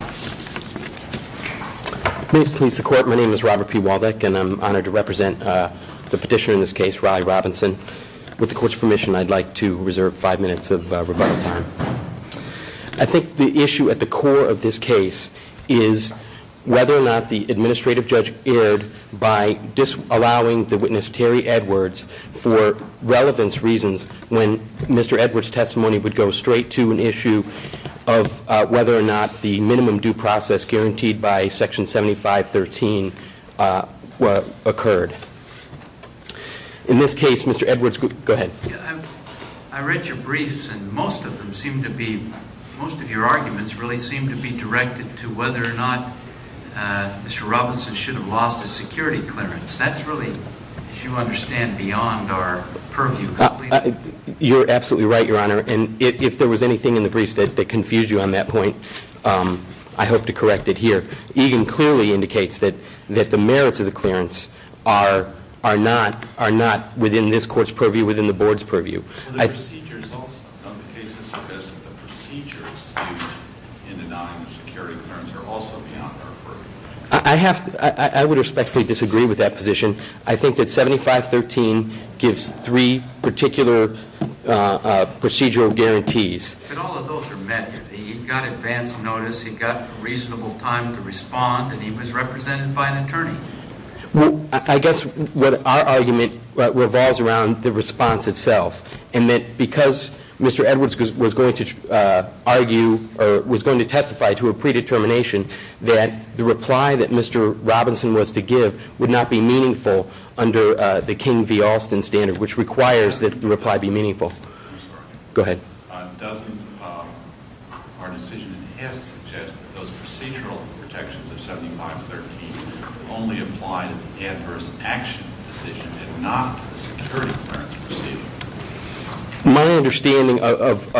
I think the issue at the core of this case is whether or not the administrative judge erred by disallowing the witness Terry Edwards for relevance reasons when Mr. Edwards' testimony would go straight to an issue of whether or not the minimum due process guaranteed by Section 7513 occurred. In this case, Mr. Edwards, go ahead. I read your briefs and most of them seem to be, most of your arguments really seem to be directed to whether or not Mr. Robinson should have lost his security clearance. That's really, as you understand, beyond our purview. You're absolutely right, Your Honor, and if there was anything in the briefs that confused you on that point, I hope to correct it here. Egan clearly indicates that the merits of the clearance are not within this court's purview, within the board's purview. The procedures of the case suggest that the procedures used in denying the security clearance are also beyond our purview. I would respectfully disagree with that position. I think that 7513 gives three particular procedural guarantees. But all of those are met. He got advance notice, he got reasonable time to respond, and he was represented by an attorney? I guess what our argument revolves around the response itself, and that because Mr. Robinson testified to a predetermination that the reply that Mr. Robinson was to give would not be meaningful under the King v. Alston standard, which requires that the reply be meaningful. I'm sorry. Go ahead. Doesn't our decision in his suggest that those procedural protections of 7513 only apply to the adverse action decision and not the security clearance proceeding? My understanding of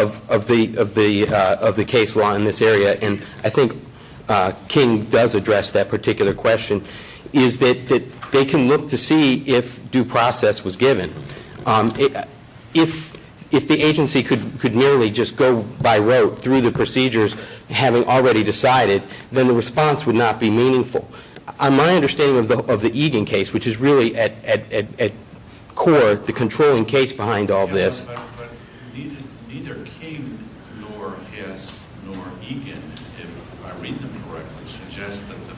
the case law in this area, and I think King does address that particular question, is that they can look to see if due process was given. If the agency could merely just go by rote through the procedures having already decided, then the response would not be meaningful. My understanding of the Egan case, which is really at core the controlling case behind all this. Neither King, nor his, nor Egan, if I read them correctly, suggest that the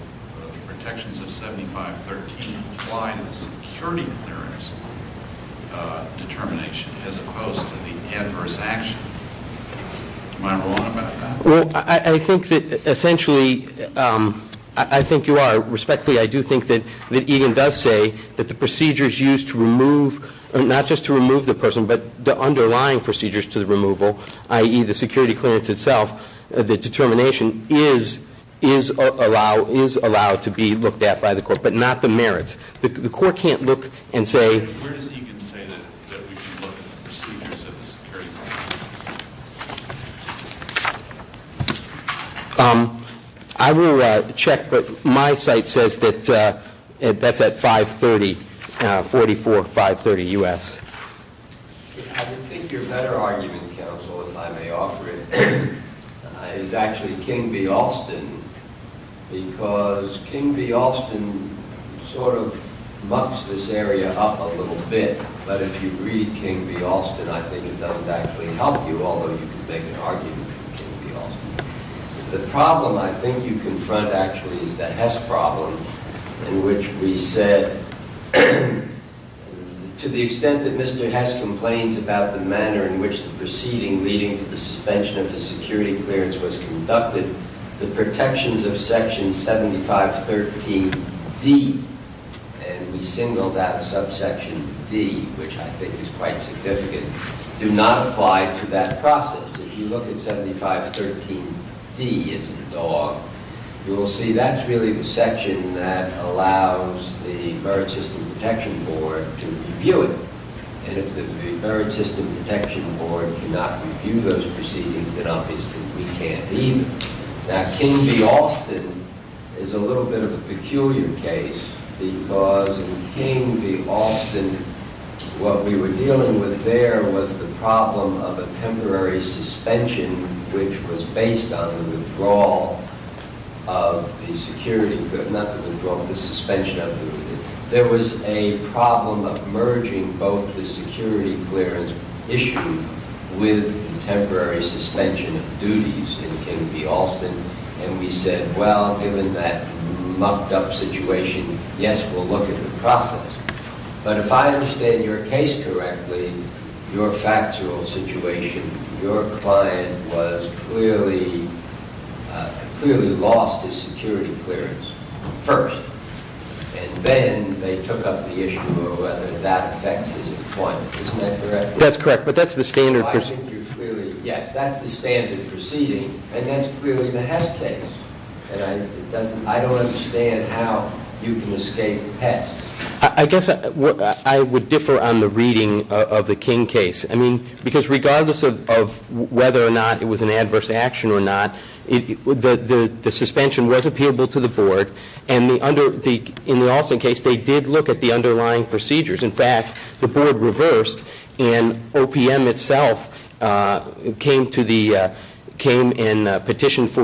protections of 7513 apply to the security clearance determination as opposed to the adverse action. Am I wrong about that? Well, I think that essentially, I think you are. Respectfully, I do think that Egan does say that the procedures used to remove, not just to remove the person, but the underlying procedures to the removal, i.e. the security clearance itself, the determination is allowed to be looked at by the court, but not the merits. The court can't look and say Where does Egan say that we can look at the procedures of the security clearance? I will check, but my site says that that's at 530, 44, 530 U.S. I think your better argument, counsel, if I may offer it, is actually King v. Alston because King v. Alston sort of mucks this area up a little bit, but if you read King v. Alston, I think it doesn't actually help you, although you can make an argument for King v. Alston. The problem I think you confront, actually, is the Hess problem in which we said to the extent that Mr. Hess complains about the manner in which the proceeding leading to the suspension of the security clearance was conducted, the protections of section 7513D, and we singled out subsection D, which I think is quite significant, do not apply to that process. If you look at 7513D as a dog, you will see that's really the section that allows the Merit System Protection Board to review it, and if the Merit System Protection Board cannot review those proceedings, then obviously we can't either. Now, King v. Alston is a little bit of a peculiar case because in King v. Alston, what we were dealing with there was the problem of a temporary suspension, which was based on the withdrawal of the security clearance issue with the temporary suspension of duties in King v. Alston, and we said, well, given that mucked up situation, yes, we'll look at the process. But if I understand your case correctly, your factual situation, your client was clearly lost his security clearance first, and then they took up the issue of whether that affects his appointment. Isn't that correct? That's correct, but that's the standard proceeding. Yes, that's the standard proceeding, and that's clearly the Hess case, and I don't understand how you can escape Hess. I guess I would differ on the reading of the King case. I mean, because regardless of whether or not it was an adverse action or not, the suspension was appealable to the board, and in the Alston case, they did look at the underlying procedures. In fact, the board reversed, and OPM itself came and petitioned for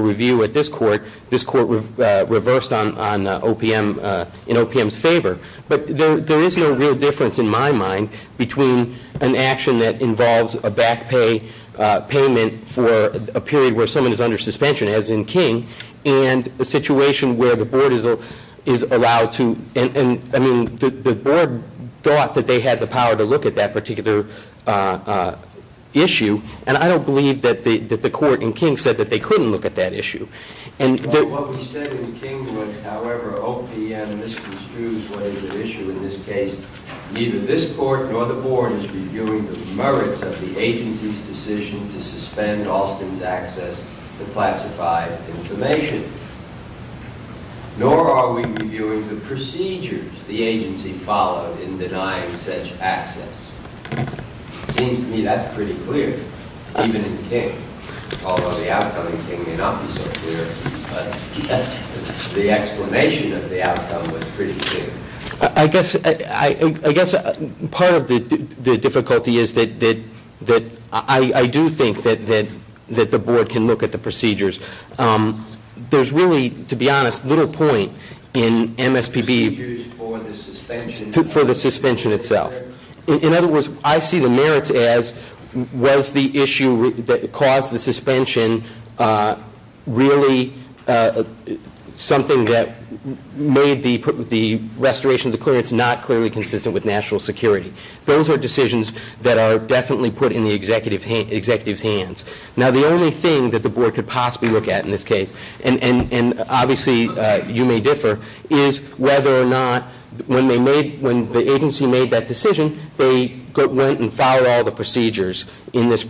review at this court. This court reversed in OPM's favor. But there is no real difference in my mind between an action that involves a payment for a period where someone is under suspension, as in King, and a situation where the board is allowed to, I mean, the board thought that they had the power to look at that particular issue, and I don't believe that the court in King said that they couldn't look at that issue. What we said in King was, however, OPM misconstrued what is at issue in this case. Neither this decision to suspend Alston's access to classified information, nor are we reviewing the procedures the agency followed in denying such access. It seems to me that's pretty clear, even in King, although the outcome in King may not be so clear, but the explanation of the outcome was pretty clear. I guess part of the difficulty is that I do think that the board can look at the procedures. There's really, to be honest, little point in MSPB- Procedures for the suspension. For the suspension itself. In other words, I see the merits as, was the issue that caused the suspension really something that made the restoration of the clearance not clearly consistent with national security. Those are decisions that are definitely put in the executive's hands. Now, the only thing that the board could possibly look at in this case, and obviously you may differ, is whether or not, when the agency made that decision, they went and followed all the procedures in this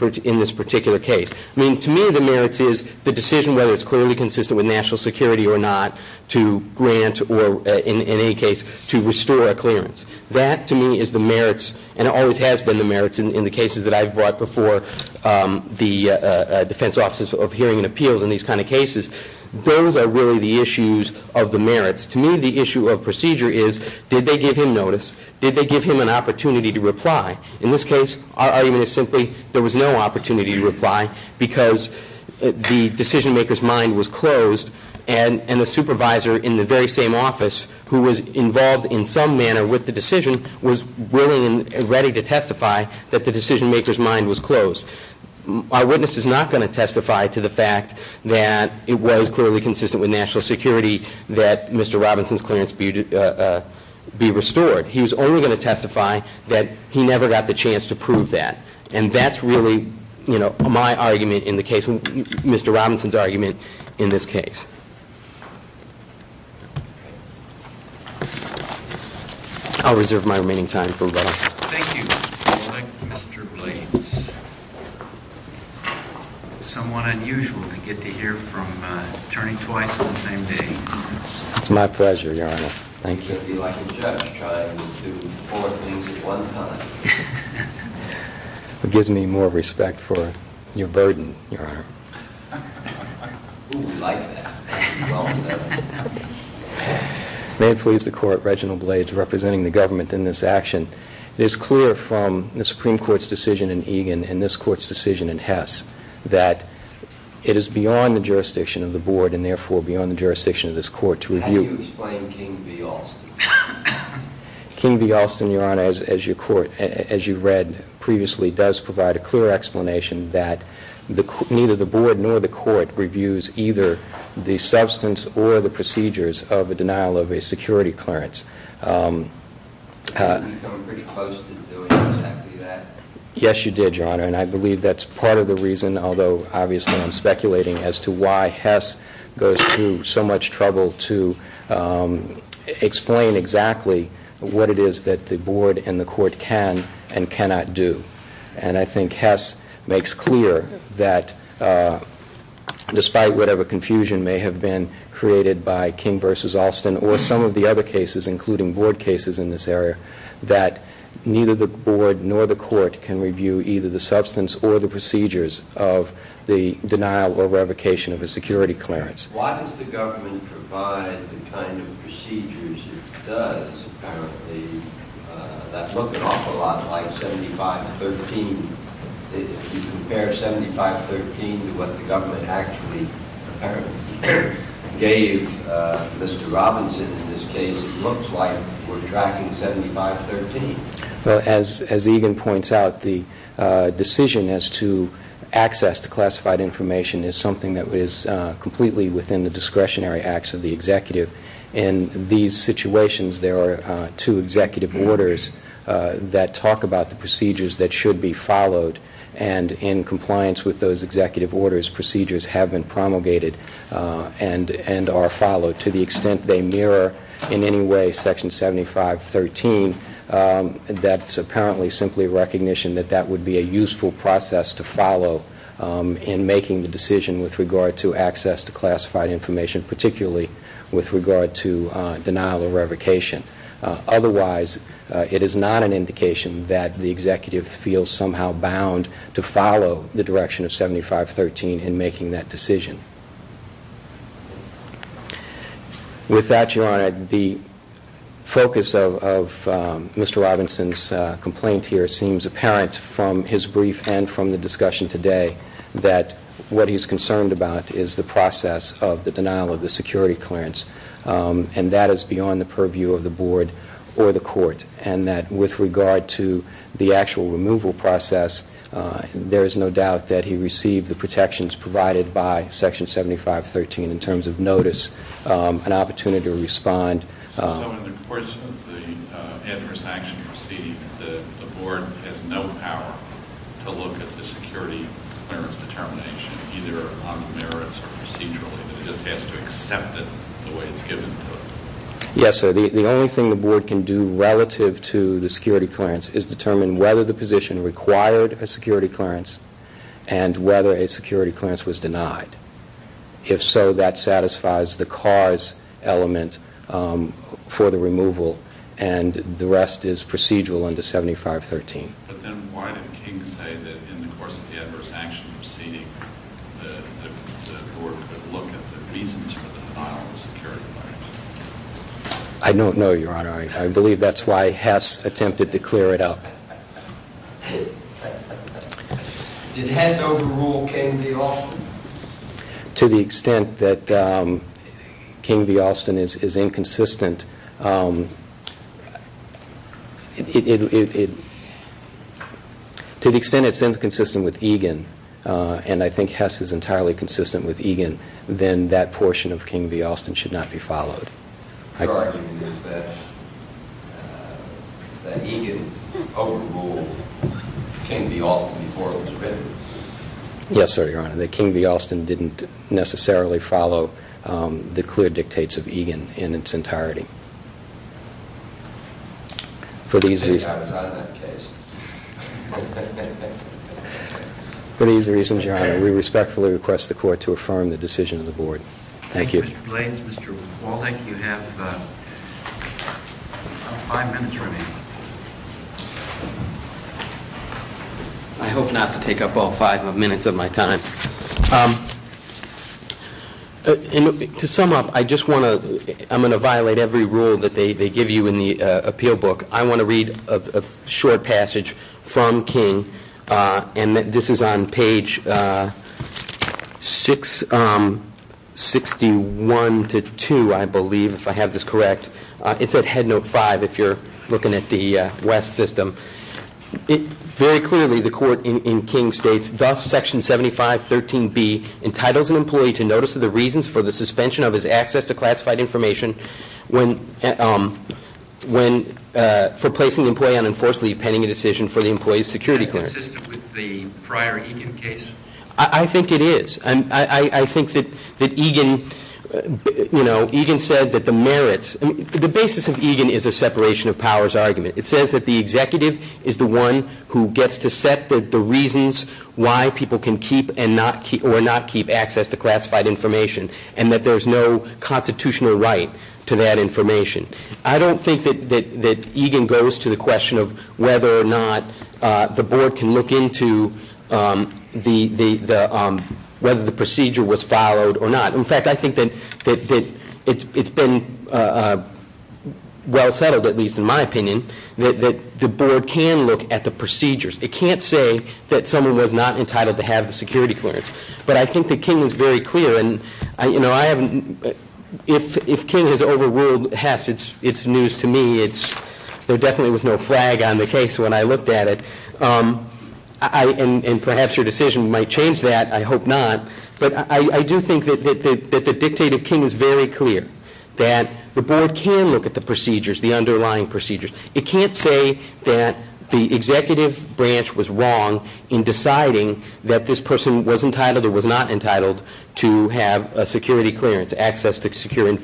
particular case. I mean, to me, the merits is the decision, whether it's clearly consistent with national security or not, to grant or, in any case, to restore a clearance. That, to me, is the merits and always has been the merits in the cases that I've brought before the defense offices of hearing and appeals in these kind of cases. Those are really the issues of the merits. To me, the issue of procedure is, did they give him notice? Did they give him an opportunity to reply? In this case, our argument is simply there was no opportunity to reply because the decision maker's mind was closed and the supervisor in the very same office who was involved in some manner with the decision was willing and ready to testify that the decision maker's mind was closed. Our witness is not going to testify to the fact that it was clearly consistent with national security that Mr. Robinson's clearance be restored. He was only going to testify that he never got the chance to prove that. And that's really my argument in the case, Mr. Robinson's argument in this case. I'll reserve my remaining time for rebuttal. Thank you, Mr. Blake. Mr. Blades. It's somewhat unusual to get to hear from an attorney twice on the same day. It's my pleasure, Your Honor. Thank you. You should be like a judge trying to do four things at one time. It gives me more respect for your burden, Your Honor. We like that. Well said. May it please the Court, Reginald Blades representing the government in this action. It is clear from the Supreme Court's decision in Egan and this Court's decision in Hess that it is beyond the jurisdiction of the Board and therefore beyond the jurisdiction of this Court to review. How do you explain King v. Alston? King v. Alston, Your Honor, as you read previously, does provide a clear explanation that neither the Board nor the Court reviews either the substance or the procedures of a denial of a security clearance. We've come pretty close to doing exactly that. Yes, you did, Your Honor. And I believe that's part of the reason, although obviously I'm speculating as to why Hess goes through so much trouble to explain exactly what it is that the Board and the Court can and cannot do. And I think Hess makes clear that despite whatever confusion may have been created by King v. Alston or some of the other cases, including Board cases in this area, that neither the Board nor the Court can review either the substance or the procedures of the denial or revocation of a security clearance. Why does the government provide the kind of procedures it does, apparently, that look an if you compare 7513 to what the government actually apparently gave Mr. Robinson in this case, it looks like we're tracking 7513. Well, as Egan points out, the decision as to access to classified information is something that is completely within the discretionary acts of the executive. In these situations, there are two executive orders that talk about the procedures that should be followed, and in compliance with those executive orders, procedures have been promulgated and are followed. To the extent they mirror in any way section 7513, that's apparently simply a recognition that that would be a useful process to follow in making the decision with regard to access to classified information, particularly with regard to denial or revocation. Otherwise, it is not an indication that the executive feels somehow bound to follow the direction of 7513 in making that decision. With that, Your Honor, the focus of Mr. Robinson's complaint here seems apparent from his process of the denial of the security clearance, and that is beyond the purview of the board or the court, and that with regard to the actual removal process, there is no doubt that he received the protections provided by section 7513 in terms of notice, an opportunity to respond. So in the course of the adverse action proceeding, the board has no power to look at the security clearance determination, either on the merits or procedurally. It just has to accept it the way it's given to it. Yes, sir. The only thing the board can do relative to the security clearance is determine whether the position required a security clearance and whether a security clearance was denied. If so, that satisfies the cause element for the removal, and the rest is procedural under 7513. But then why did King say that in the course of the adverse action proceeding, the board could look at the reasons for the denial of the security clearance? I don't know, Your Honor. I believe that's why Hess attempted to clear it up. Did Hess overrule King v. Alston? To the extent that King v. Alston is inconsistent, to the extent it's inconsistent with Egan, and I think Hess is entirely consistent with Egan, then that portion of King v. Alston should not be followed. Your argument is that Egan overruled King v. Alston before it was written? Yes, sir, Your Honor. That King v. Alston didn't necessarily follow the clear dictates of Egan in its entirety. For these reasons, Your Honor, we respectfully request the court to affirm the decision of the board. Thank you. Thank you, Mr. Blades. Mr. Waldeck, you have five minutes remaining. I hope not to take up all five minutes of my time. To sum up, I'm going to violate every rule that they give you in the appeal book. I want to read a short passage from King, and this is on page 61 to 2, I believe, if I have this correct. It's at Headnote 5 if you're looking at the West system. Very clearly, the court in King states, Thus, Section 7513B entitles an employee to notice of the reasons for the suspension of his access to classified information for placing the employee on enforced leave pending a decision for the employee's security clearance. Is that consistent with the prior Egan case? I think it is. I think that Egan said that the merits, the basis of Egan is a separation of powers argument. It says that the executive is the one who gets to set the reasons why people can keep or not keep access to classified information, and that there's no constitutional right to that information. I don't think that Egan goes to the question of whether or not the board can look into whether the procedure was followed or not. In fact, I think that it's been well settled, at least in my opinion, that the board can look at the procedures. It can't say that someone was not entitled to have the security clearance. But I think that King is very clear. If King has overruled Hess, it's news to me. There definitely was no flag on the case when I looked at it. And perhaps your decision might change that. I hope not. But I do think that the dictate of King is very clear, that the board can look at the procedures, the underlying procedures. It can't say that the executive branch was wrong in deciding that this person was entitled or was not entitled to have a security clearance, access to secured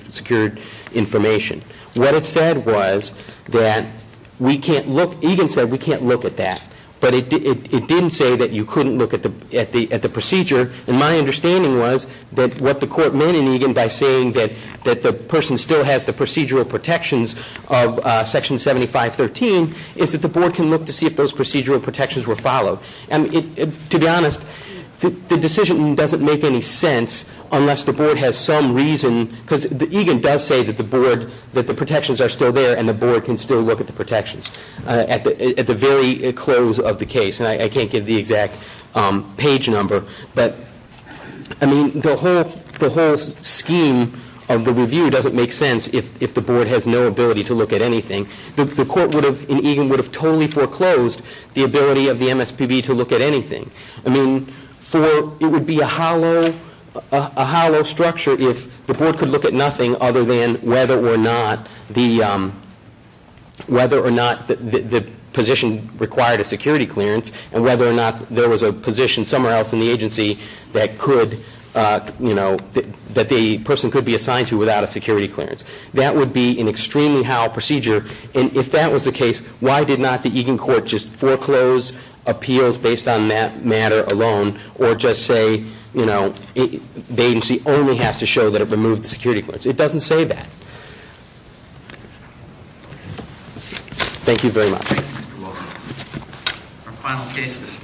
information. What it said was that we can't look. Egan said we can't look at that. But it didn't say that you couldn't look at the procedure. And my understanding was that what the court meant in Egan by saying that the person still has the procedural protections of Section 7513, is that the board can look to see if those procedural protections were followed. And to be honest, the decision doesn't make any sense unless the board has some reason, because Egan does say that the protections are still there and the board can still look at the protections at the very close of the case. And I can't give the exact page number. But the whole scheme of the review doesn't make sense if the board has no ability to look at anything. The court in Egan would have totally foreclosed the ability of the MSPB to look at anything. It would be a hollow structure if the board could look at nothing other than whether or not the position required a security clearance, and whether or not there was a position somewhere else in the agency that the person could be assigned to without a security clearance. That would be an extremely hollow procedure. And if that was the case, why did not the Egan court just foreclose appeals based on that matter alone, or just say, you know, the agency only has to show that it removed the security clearance? It doesn't say that. Thank you very much. Thank you, Mr. Walden. Our final case this morning is the Egan case.